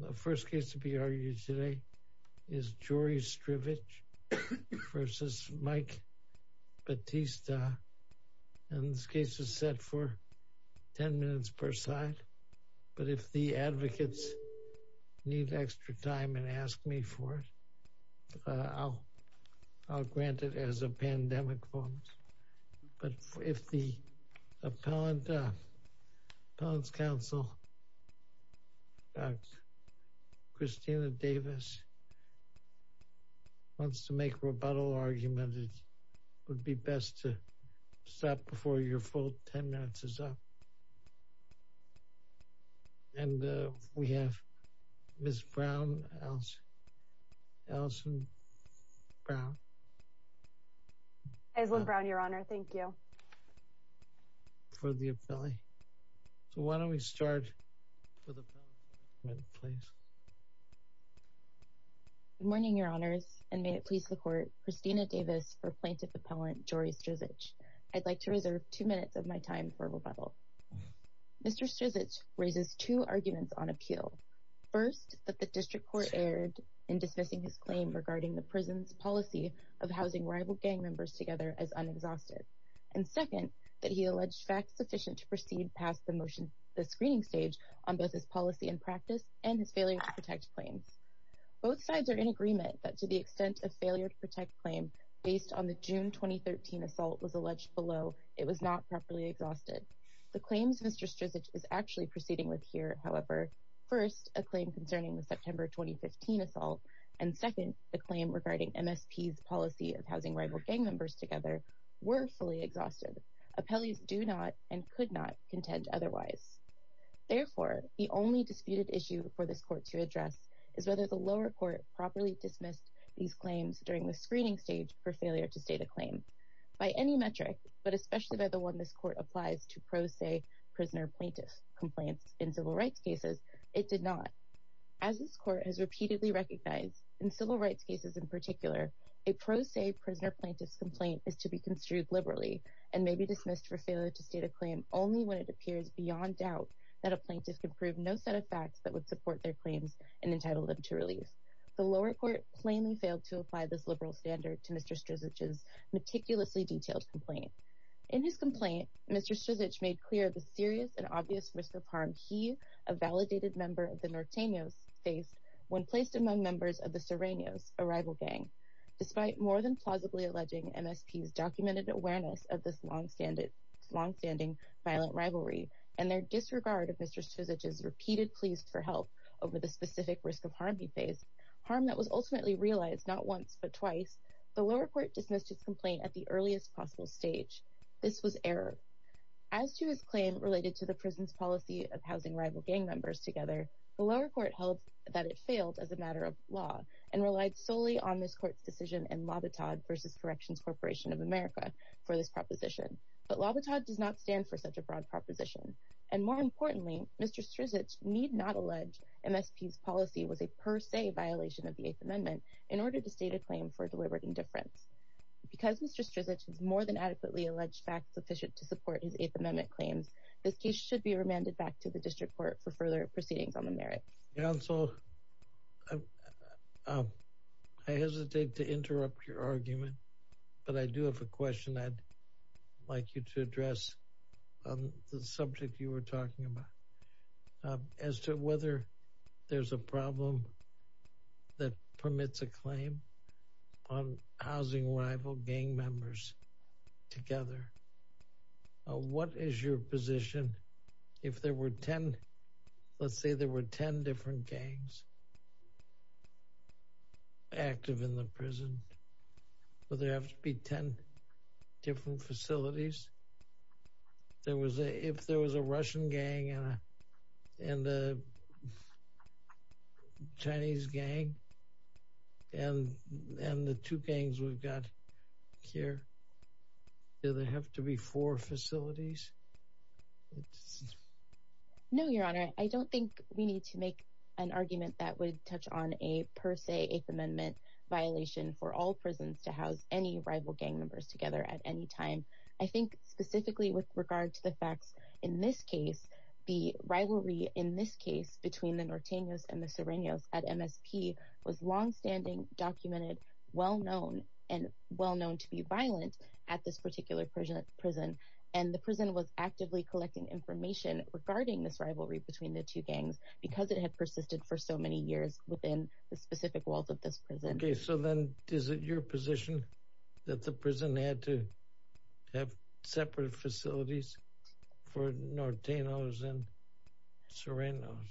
The first case to be argued today is Jory Strizich v. Mike Batista, and this case is set for 10 minutes per side, but if the advocates need extra time and ask me for it, I'll grant it as a pandemic vote. But if the appellant's counsel, Dr. Christina Davis, wants to make a rebuttal argument, it would be best to stop before your full 10 minutes is up. And we have Ms. Brown, Alison Brown, for the appellee. So why don't we start with the appellant, please. Good morning, Your Honors, and may it please the Court, Christina Davis for Plaintiff Appellant Jory Strizich. I'd like to reserve two minutes of my time for rebuttal. Mr. Strizich raises two arguments on appeal. First, that the District Court erred in dismissing his claim regarding the prison's policy of housing rival gang members together as unexhausted. And second, that he alleged facts sufficient to proceed past the screening stage on both his policy and practice and his failure to protect claims. Both sides are in agreement that to the extent of failure to protect claim based on the June 2013 assault was alleged below, was not properly exhausted. The claims Mr. Strizich is actually proceeding with here, however, first, a claim concerning the September 2015 assault, and second, the claim regarding MSP's policy of housing rival gang members together were fully exhausted. Appellees do not and could not contend otherwise. Therefore, the only disputed issue for this Court to address is whether the lower court properly dismissed these claims during the screening stage for the one this Court applies to pro se prisoner plaintiff complaints in civil rights cases. It did not. As this Court has repeatedly recognized in civil rights cases in particular, a pro se prisoner plaintiff's complaint is to be construed liberally and may be dismissed for failure to state a claim only when it appears beyond doubt that a plaintiff can prove no set of facts that would support their claims and entitle them to release. The lower court plainly In his complaint, Mr. Strizich made clear the serious and obvious risk of harm he, a validated member of the Norteños, faced when placed among members of the Sirenios, a rival gang. Despite more than plausibly alleging MSP's documented awareness of this longstanding violent rivalry and their disregard of Mr. Strizich's repeated pleas for help over the specific risk of harm he faced, harm that was ultimately realized not once but twice, the lower court dismissed his complaint at the earliest possible stage. This was error. As to his claim related to the prison's policy of housing rival gang members together, the lower court held that it failed as a matter of law and relied solely on this court's decision in Lobotod versus Corrections Corporation of America for this proposition. But Lobotod does not stand for such a broad proposition. And more importantly, Mr. Strizich need not allege MSP's policy was a per se violation of the Eighth Amendment in order to state a claim for the wayward indifference. Because Mr. Strizich has more than adequately alleged facts sufficient to support his Eighth Amendment claims, this case should be remanded back to the district court for further proceedings on the merits. Counsel, I hesitate to interrupt your argument, but I do have a question I'd like you to address on the subject you were talking about. As to whether there's a problem that permits a claim, on housing rival gang members together, what is your position if there were 10, let's say there were 10 different gangs active in the prison, would there have to be 10 different facilities? If there was a Russian gang and a Chinese gang, and the two gangs we've got here, do they have to be four facilities? No, Your Honor, I don't think we need to make an argument that would touch on a per se Eighth Amendment violation for all prisons to house any rival gang members together at any time. I think specifically with regard to the facts in this case, the rivalry in this case between the Nortenos and the Sirenios at MSP was longstanding, documented, well known, and well known to be violent at this particular prison. And the prison was actively collecting information regarding this rivalry between the two gangs, because it had persisted for so many years within the specific walls of this prison. Okay, so then is it your position that the prison had to have separate facilities for Nortenos and Sirenios?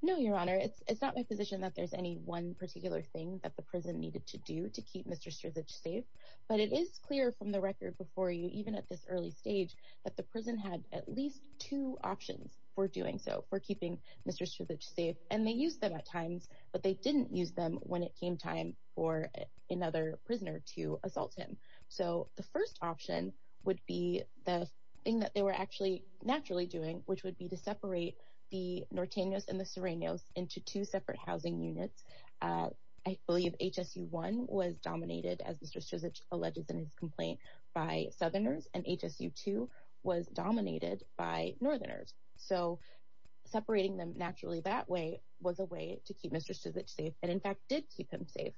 No, Your Honor, it's not my position that there's any one particular thing that the prison needed to do to keep Mr. Strzic safe. But it is clear from the record before you, even at this early stage, that the prison had at least two options for doing so for keeping Mr. Strzic safe. And they use them at times, but they didn't use them when it came time for another prisoner to assault him. So the first option would be the thing that they were actually naturally doing, which would be to separate the Nortenos and the Sirenios into two separate housing units. I believe HSU-1 was dominated, as Mr. Strzic alleges in his complaint, by Southerners, and HSU-2 was dominated by Northerners. So separating them naturally that way was a way to keep Mr. Strzic safe, and in fact did keep him safe.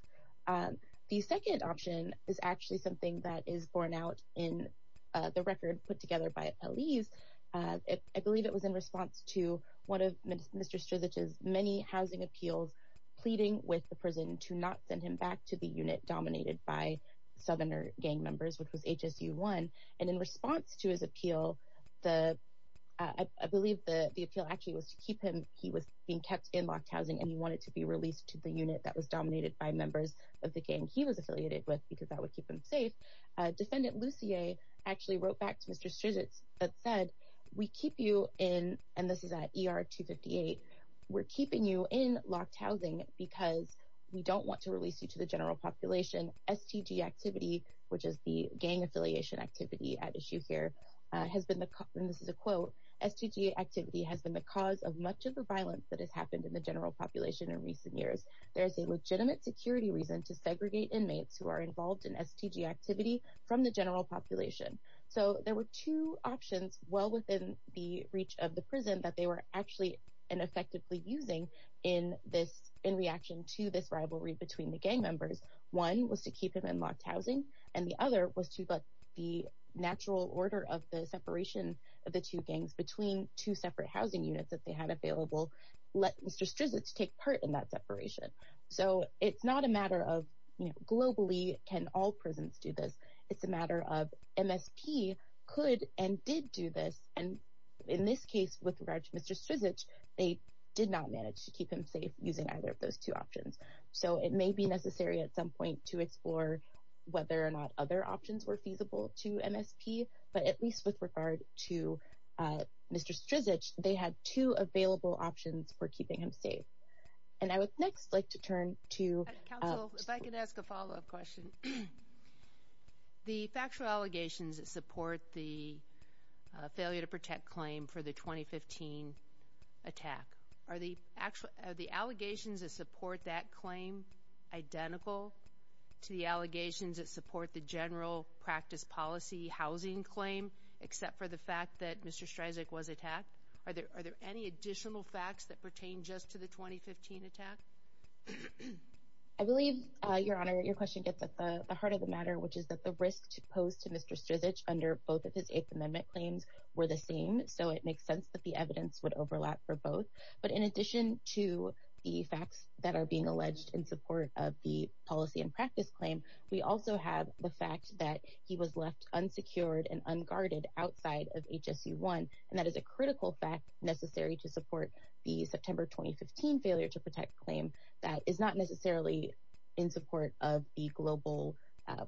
The second option is actually something that is borne out in the record put together by police. I believe it was in response to one of Mr. Strzic's many housing appeals pleading with the prison to not send him back to the unit dominated by Southerner gang members, which was HSU-1. And in response to his appeal, I believe the appeal actually was to keep him, he was being kept in locked housing and he wanted to be released to the unit that was dominated by members of the gang he was affiliated with, because that would keep him safe. Defendant Lussier actually wrote back to Mr. Strzic that said, we keep you in, and this is at ER-258, we're keeping you in locked housing because we don't want to release you to the gang affiliation activity at issue here, has been the, and this is a quote, STG activity has been the cause of much of the violence that has happened in the general population in recent years. There is a legitimate security reason to segregate inmates who are involved in STG activity from the general population. So there were two options well within the reach of the prison that they were actually and effectively using in this, in reaction to this rivalry between the gang members. One was to keep him in locked housing, and the other was the natural order of the separation of the two gangs between two separate housing units that they had available, let Mr. Strzic take part in that separation. So it's not a matter of globally can all prisons do this. It's a matter of MSP could and did do this. And in this case with regards to Mr. Strzic, they did not manage to keep him safe using either of those two options. So it may be necessary at some point to explore whether or not other options were feasible to MSP, but at least with regard to Mr. Strzic, they had two available options for keeping him safe. And I would next like to turn to. MS. MCDOWELL. Counsel, if I could ask a follow-up question. The factual allegations that support the failure to protect claim for the 2015 attack, are the allegations that support that claim identical to the allegations that support the general practice policy housing claim, except for the fact that Mr. Strzic was attacked? Are there any additional facts that pertain just to the 2015 attack? MS. MCDOWELL. I believe, Your Honor, your question gets at the heart of the matter, which is that the risk posed to Mr. Strzic under both of his Eighth Amendment claims were the same, so it makes sense that the evidence would overlap for both. But in addition to the facts that are being alleged in support of the policy and practice claim, we also have the fact that he was left unsecured and unguarded outside of HSU-1, and that is a critical fact necessary to support the September 2015 failure to protect claim that is not necessarily in support of the global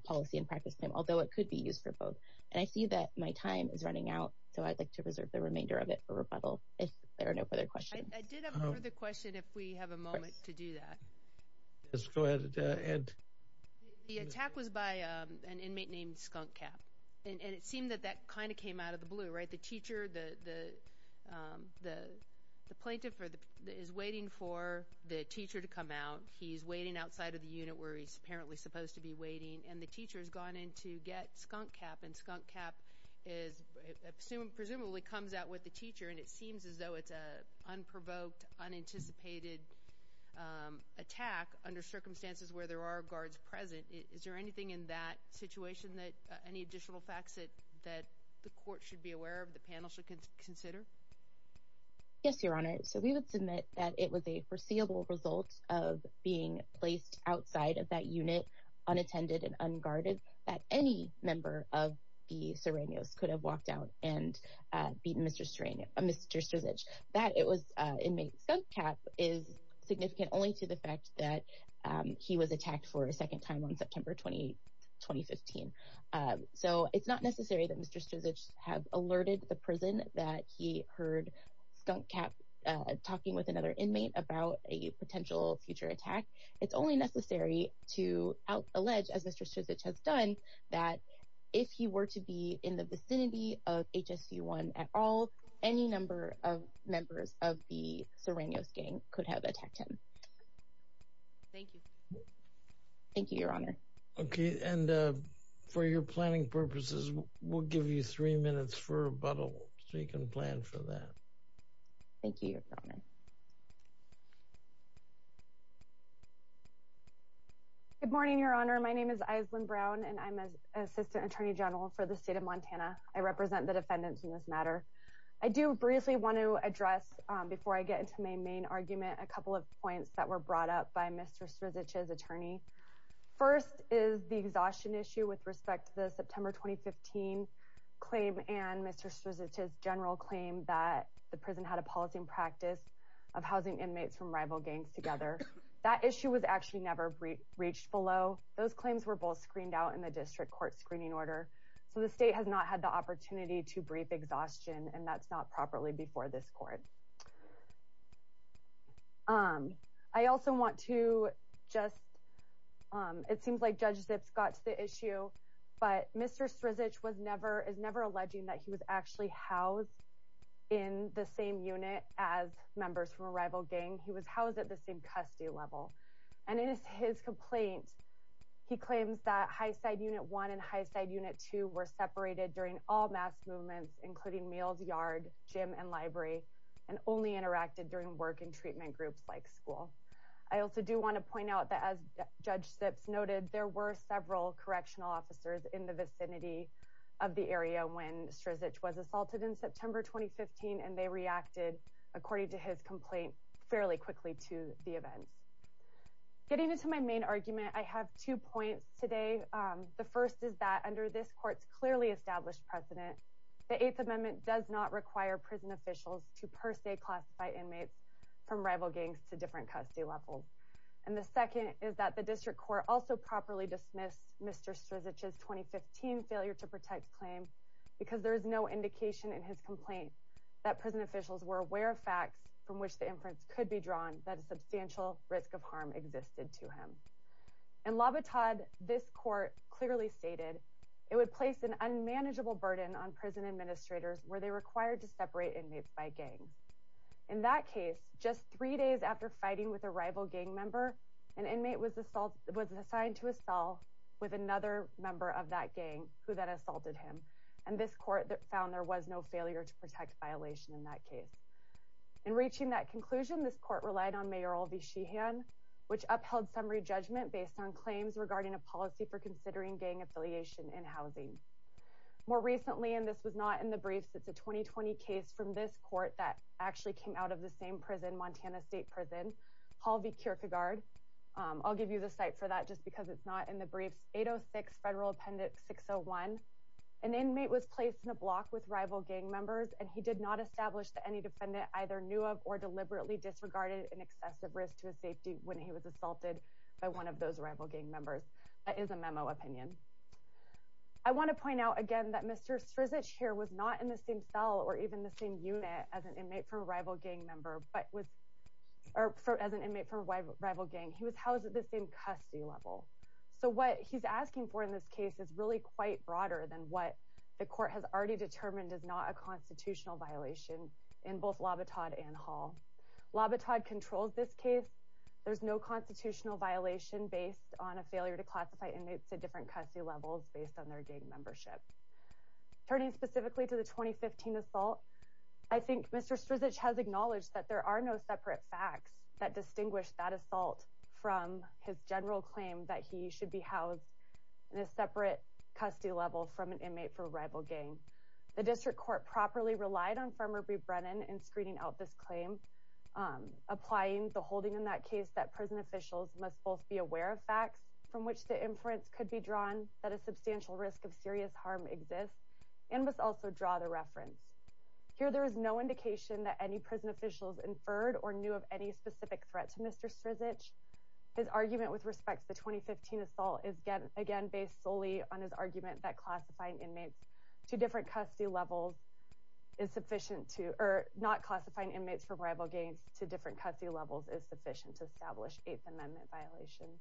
policy and practice claim, although it could be used for both. And I see that my time is running out, so I'd like to reserve the remainder of it for rebuttal, if there are no further questions. MS. MCDOWELL. I did have a further question, if we have a moment to do that. MR. SORENSEN. Yes, go ahead, Ed. MS. MCDOWELL. The attack was by an inmate named Skunk Cap, and it seemed that that kind of came out of the blue, right? The teacher, the plaintiff is waiting for the teacher to come out. He's waiting outside of the unit where he's apparently supposed to be waiting, and the teacher has gone in to get Skunk Cap, and Skunk Cap presumably comes out with the teacher, and it seems as though it's an unprovoked, unanticipated attack under circumstances where there are guards present. Is there anything in that situation, any additional facts that the court should be aware of, the panel should consider? MS. MCDOWELL. Yes, Your Honor. So we would submit that it was a foreseeable result of being placed outside of that unit, unattended and unguarded, that any member of the Serenios could have walked out and beaten Mr. Strzic. That it was inmate Skunk Cap is significant only to the fact that he was attacked for a second time on September 20, 2015. So it's not necessary that Mr. Strzic have alerted the prison that he heard Skunk Cap talking with another inmate about a potential future attack. It's only necessary to allege, as Mr. Strzic has done, that if he were to be in the vicinity of HSC-1 at all, any number of members of the Serenios gang could have attacked him. MS. MCDOWELL. Thank you. MS. MCDOWELL. Thank you, Your Honor. MR. SORENSEN. Okay, and for your planning purposes, we'll give you three minutes for rebuttal, so you can plan for that. MS. MCDOWELL. Thank you, Your Honor. MS. ISLAND-BROWN. Good morning, Your Honor. My name is Island-Brown, and I'm an Assistant Attorney General for the State of Montana. I represent the defendants in this matter. I do briefly want to address, before I get into my main argument, a couple of points that were brought up by Mr. Strzic's attorney. First is the exhaustion issue with respect to the September 2015 claim and Mr. Strzic's claim that the state has not had the opportunity to brief exhaustion, and that's not properly before this court. I also want to just, it seems like Judge Zips got to the issue, but Mr. Strzic is never alleging that he was actually housed in the same unit as members from a rival gang. He was housed at the same custody level. And in his complaint, he claims that Highside Unit 1 and Highside Unit 2 were separated during all mass movements, including Meals Yard, gym, and library, and only interacted during work and treatment groups like school. I also do want to point out that, as Judge Zips noted, there were several correctional officers in the vicinity of the area when Strzic was assaulted in September 2015, and they reacted, according to his complaint, fairly quickly to the events. Getting into my main argument, I have two points today. The first is that, under this court's clearly established precedent, the Eighth Amendment does not require prison officials to per se classify inmates from rival gangs to different custody levels. And the second is that the district court also properly dismissed Mr. Strzic's 2015 failure to protect claim because there is no indication in his complaint that prison officials were aware of facts from which the inference could be drawn that a substantial risk of harm existed to him. In L'Habitat, this court clearly stated it would place an unmanageable burden on prison administrators were they required to separate inmates by gang. In that case, just three days after fighting with a rival gang member, an inmate was assigned to a cell with another member of that gang who then assaulted him, and this court found there was no failure to protect violation in that case. In reaching that conclusion, this court relied on Mayor Olvie Sheehan, which upheld summary judgment based on claims regarding a policy for considering gang affiliation in housing. More recently, and this was not in the briefs, it's a 2020 case from this court that actually came out of the same prison, Montana State Prison, Olvie Kierkegaard. I'll give you the site for that just because it's not in the briefs. 806 Federal Appendix 601. An inmate was placed in a block with rival gang members, and he did not establish that any defendant either knew of or deliberately disregarded an excessive risk to his safety when he was assaulted by one of those rival gang members. That is a memo opinion. I want to point out again that Mr. Strzic here was not in the same cell or even the same unit as an inmate from a rival gang member, or as an inmate from a rival gang. He was housed at the same custody level. So what he's asking for in this case is really quite broader than what the court has already determined is not a constitutional violation in both Labatade and Hall. Labatade controls this case. There's no constitutional violation based on a failure to classify inmates at different custody levels based on their gang membership. Turning specifically to the 2015 assault, I think Mr. Strzic has acknowledged that there are no separate facts that distinguish that assault from his general claim that he should be housed in a separate custody level from an inmate for a rival gang. The District Court properly relied on Farmer B. Brennan in screening out this claim, applying the holding in that case that prison officials must both be aware of facts from which the inference could be drawn that a substantial risk of serious harm exists and must also draw the reference. Here there is no indication that any prison officials inferred or knew of any specific threat to Mr. Strzic. His argument with respect to the 2015 assault is again based solely on his argument that classifying inmates to different custody levels is sufficient to, or not classifying inmates from rival gangs to different custody levels is sufficient to establish Eighth Amendment violations.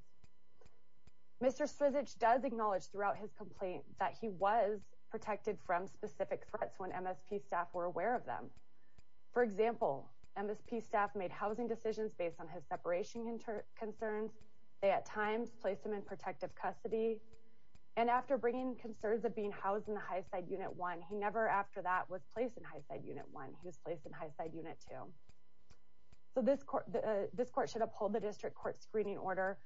Mr. Strzic does acknowledge throughout his complaint that he was protected from specific threats when MSP staff were aware of them. For example, MSP staff made housing decisions based on his separation concerns. They at times placed him in protective custody and after bringing concerns of being housed in the high side unit one, he never after that was placed in high side unit one. He was placed in high side unit two. So this court should uphold the District Court screening order.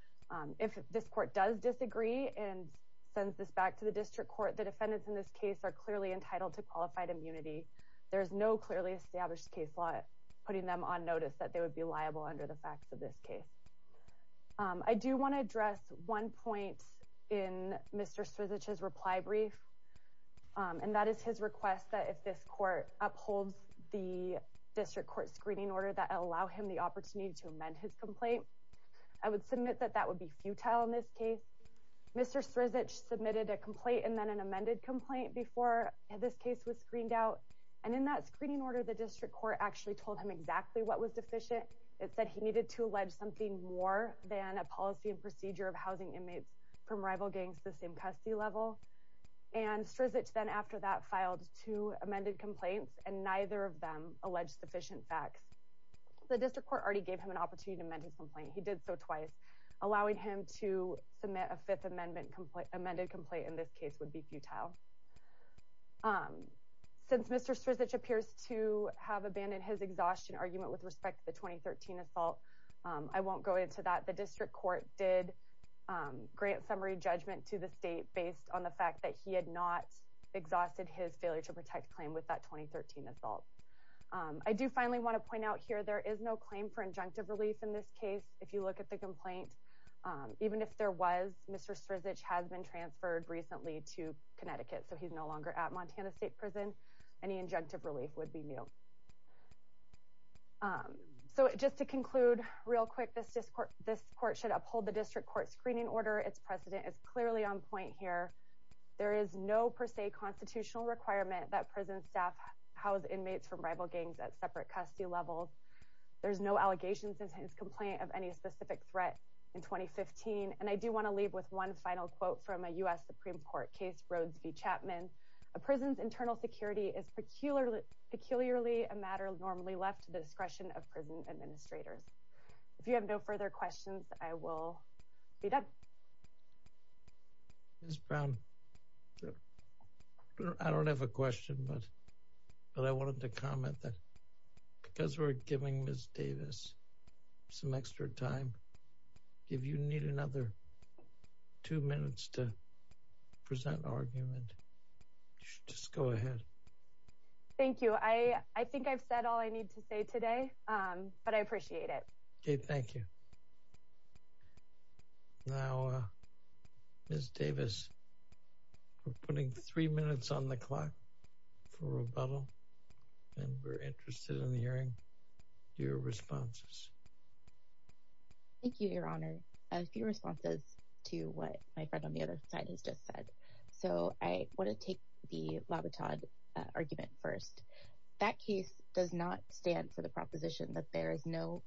If this court does disagree and sends this back to the District Court, the defendants in this case are clearly entitled to qualified immunity. There is no clearly established case law putting them on notice that they would be liable under the facts of this case. I do want to address one point in Mr. Strzic's reply brief and that is his request that if this court upholds the District Court screening order that allow him the opportunity to amend his complaint. I would submit that that would be futile in this case. Mr. Strzic submitted a complaint and then an amended complaint before this case was screened out and in that screening order the District Court actually told him exactly what was deficient. It said he needed to allege something more than a policy and procedure of housing inmates from rival gangs the same custody level and Strzic then after that filed two amended complaints and neither of them alleged sufficient facts. The District Court already gave him an opportunity he did so twice allowing him to submit a fifth amended complaint in this case would be futile. Since Mr. Strzic appears to have abandoned his exhaustion argument with respect to the 2013 assault, I won't go into that. The District Court did grant summary judgment to the state based on the fact that he had not exhausted his failure to protect claim with that 2013 assault. I do want to point out here there is no claim for injunctive relief in this case. If you look at the complaint even if there was Mr. Strzic has been transferred recently to Connecticut so he's no longer at Montana State Prison any injunctive relief would be nil. So just to conclude real quick this court should uphold the District Court screening order its precedent is clearly on point here. There is no per se constitutional requirement that prison staff house inmates from rival gangs at separate custody levels. There's no allegations since his complaint of any specific threat in 2015 and I do want to leave with one final quote from a U.S. Supreme Court case Rhodes v. Chapman. A prison's internal security is peculiarly a matter normally left to the discretion of prison administrators. If you have no further questions I will be done. Ms. Brown I don't have a question but I wanted to comment that because we're giving Ms. Davis some extra time if you need another two minutes to present argument you should just go ahead. Thank you. I think I've said all I need to say today but I appreciate it. Okay thank you. Now Ms. Davis we're putting three minutes on the clock for rebuttal and we're interested in hearing your responses. Thank you your honor. A few responses to what my friend on the other side has just said. So I want to take the Labrador argument first. That case does not stand for the proposition that there is no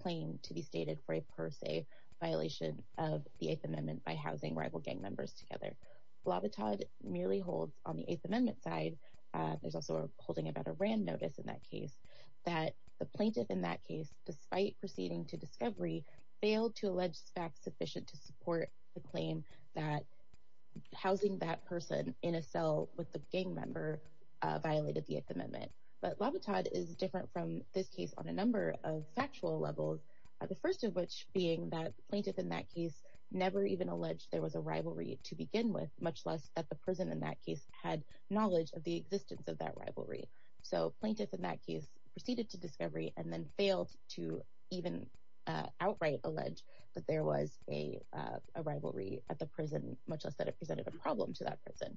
claim to be stated for a per se violation of the Eighth Amendment by housing rival gang members together. Labrador merely holds on the Eighth Amendment side there's also a holding about a brand notice in that case that the plaintiff in that case despite proceeding to discovery failed to allege facts sufficient to support the claim that housing that person in a cell with the gang member violated the Eighth Amendment. But Labrador is different from this case on a number of factual levels the first of which being that plaintiff in that case never even alleged there was a rivalry to begin with much less that the prison in that case had knowledge of the existence of that rivalry. So plaintiff in that case proceeded to discovery and then failed to even outright allege that there was a rivalry at the prison much less that it presented a problem to that person.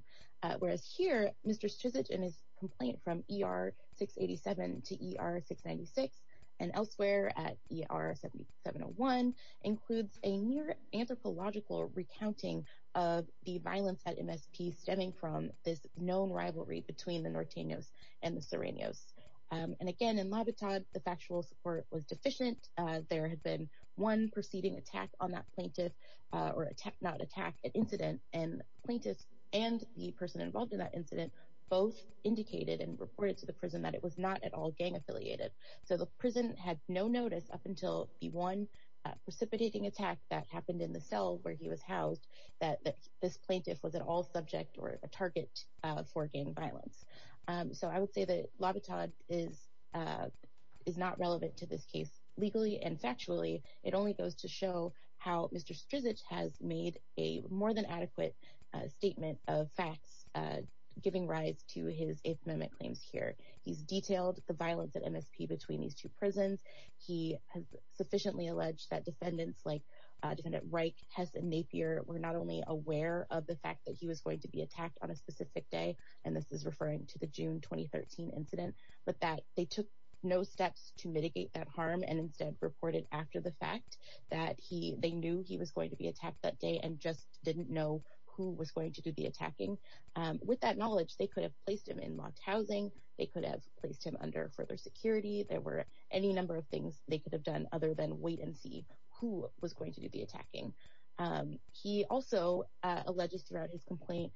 Whereas here Mr. Strizic and his complaint from ER 687 to ER 696 and elsewhere at ER 7701 includes a near anthropological recounting of the violence at MSP stemming from this known rivalry between the Norteños and the Sereños. And again in Labrador the factual support was deficient there had been one proceeding attack on that plaintiff or attack not attack an incident and plaintiffs and the person involved in that incident both indicated and reported to the prison that it was not at all gang affiliated. So the prison had no notice up until the one precipitating attack that happened in the cell where he was housed that this plaintiff was at all subject or a target for gang violence. So I would say that Labrador is not relevant to this case legally and factually. It only goes to show how Mr. Strizic has made a more than adequate statement of facts giving rise to his Eighth Amendment claims here. He's detailed the violence at MSP between these two prisons. He has sufficiently alleged that defendants like defendant Reich, Hess and Napier were not only aware of the fact that he was going to be attacked on a specific day and this is referring to the June 2013 incident but that they took no steps to mitigate that harm and instead reported after the fact that he they knew he was going to be attacked that day and just didn't know who was going to do the attacking. With that knowledge they could have placed him in locked housing they could have placed him under further security there were any number of things they could have done other than wait and see who was going to do the attacking. He also alleges throughout his complaint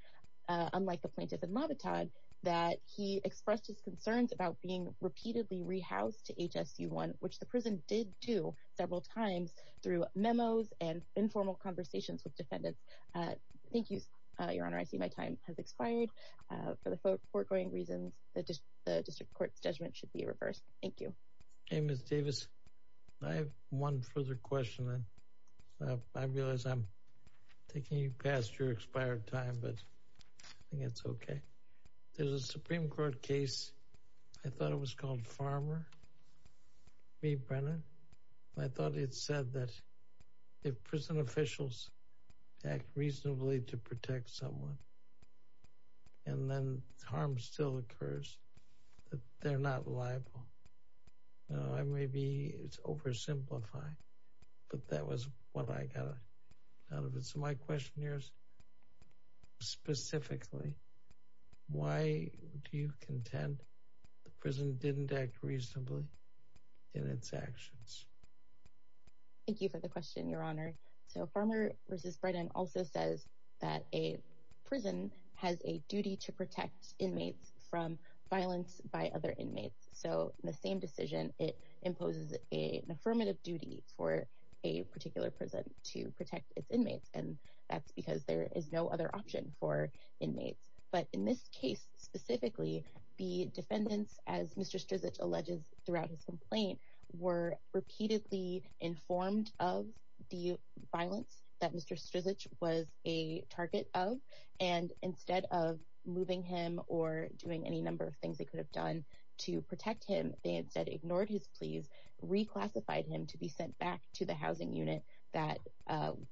unlike the plaintiff and Labrador that he expressed his concerns about being did do several times through memos and informal conversations with defendants. Thank you your honor I see my time has expired for the foregoing reasons the district court's judgment should be reversed. Thank you. Hey Ms. Davis I have one further question and I realize I'm taking you past your expired time but I think it's okay. There's a Supreme Court case I thought it was Farmer v. Brennan. I thought it said that if prison officials act reasonably to protect someone and then harm still occurs that they're not liable. Now I may be it's oversimplifying but that was what I got out of it. So my question here is specifically why do you contend the prison didn't act reasonably in its actions? Thank you for the question your honor. So Farmer v. Brennan also says that a prison has a duty to protect inmates from violence by other inmates. So the same decision it imposes an affirmative duty for a particular prison to protect its inmates and that's because there is no other option for inmates. But in this case specifically the inmates Mr. Strzich alleges throughout his complaint were repeatedly informed of the violence that Mr. Strzich was a target of and instead of moving him or doing any number of things they could have done to protect him they instead ignored his pleas reclassified him to be sent back to the housing unit that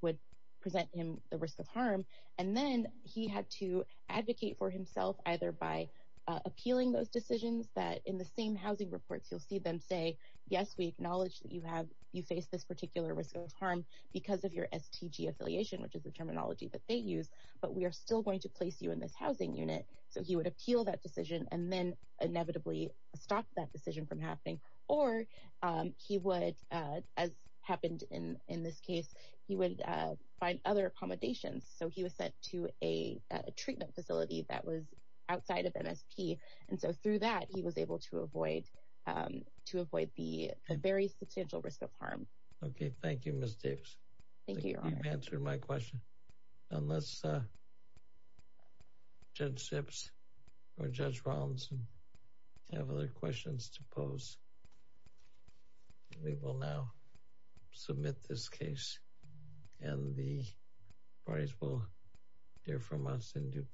would present him the risk of harm and then he had to advocate for you'll see them say yes we acknowledge that you have you face this particular risk of harm because of your STG affiliation which is the terminology that they use but we are still going to place you in this housing unit so he would appeal that decision and then inevitably stop that decision from happening or he would as happened in in this case he would find other accommodations so he was sent to a treatment facility that was outside of MSP and so through that he was able to avoid to avoid the very substantial risk of harm okay thank you miss davis thank you for answering my question unless uh judge ships or judge ronaldson have other questions to pose we will now submit this case and the parties will hear from us in due course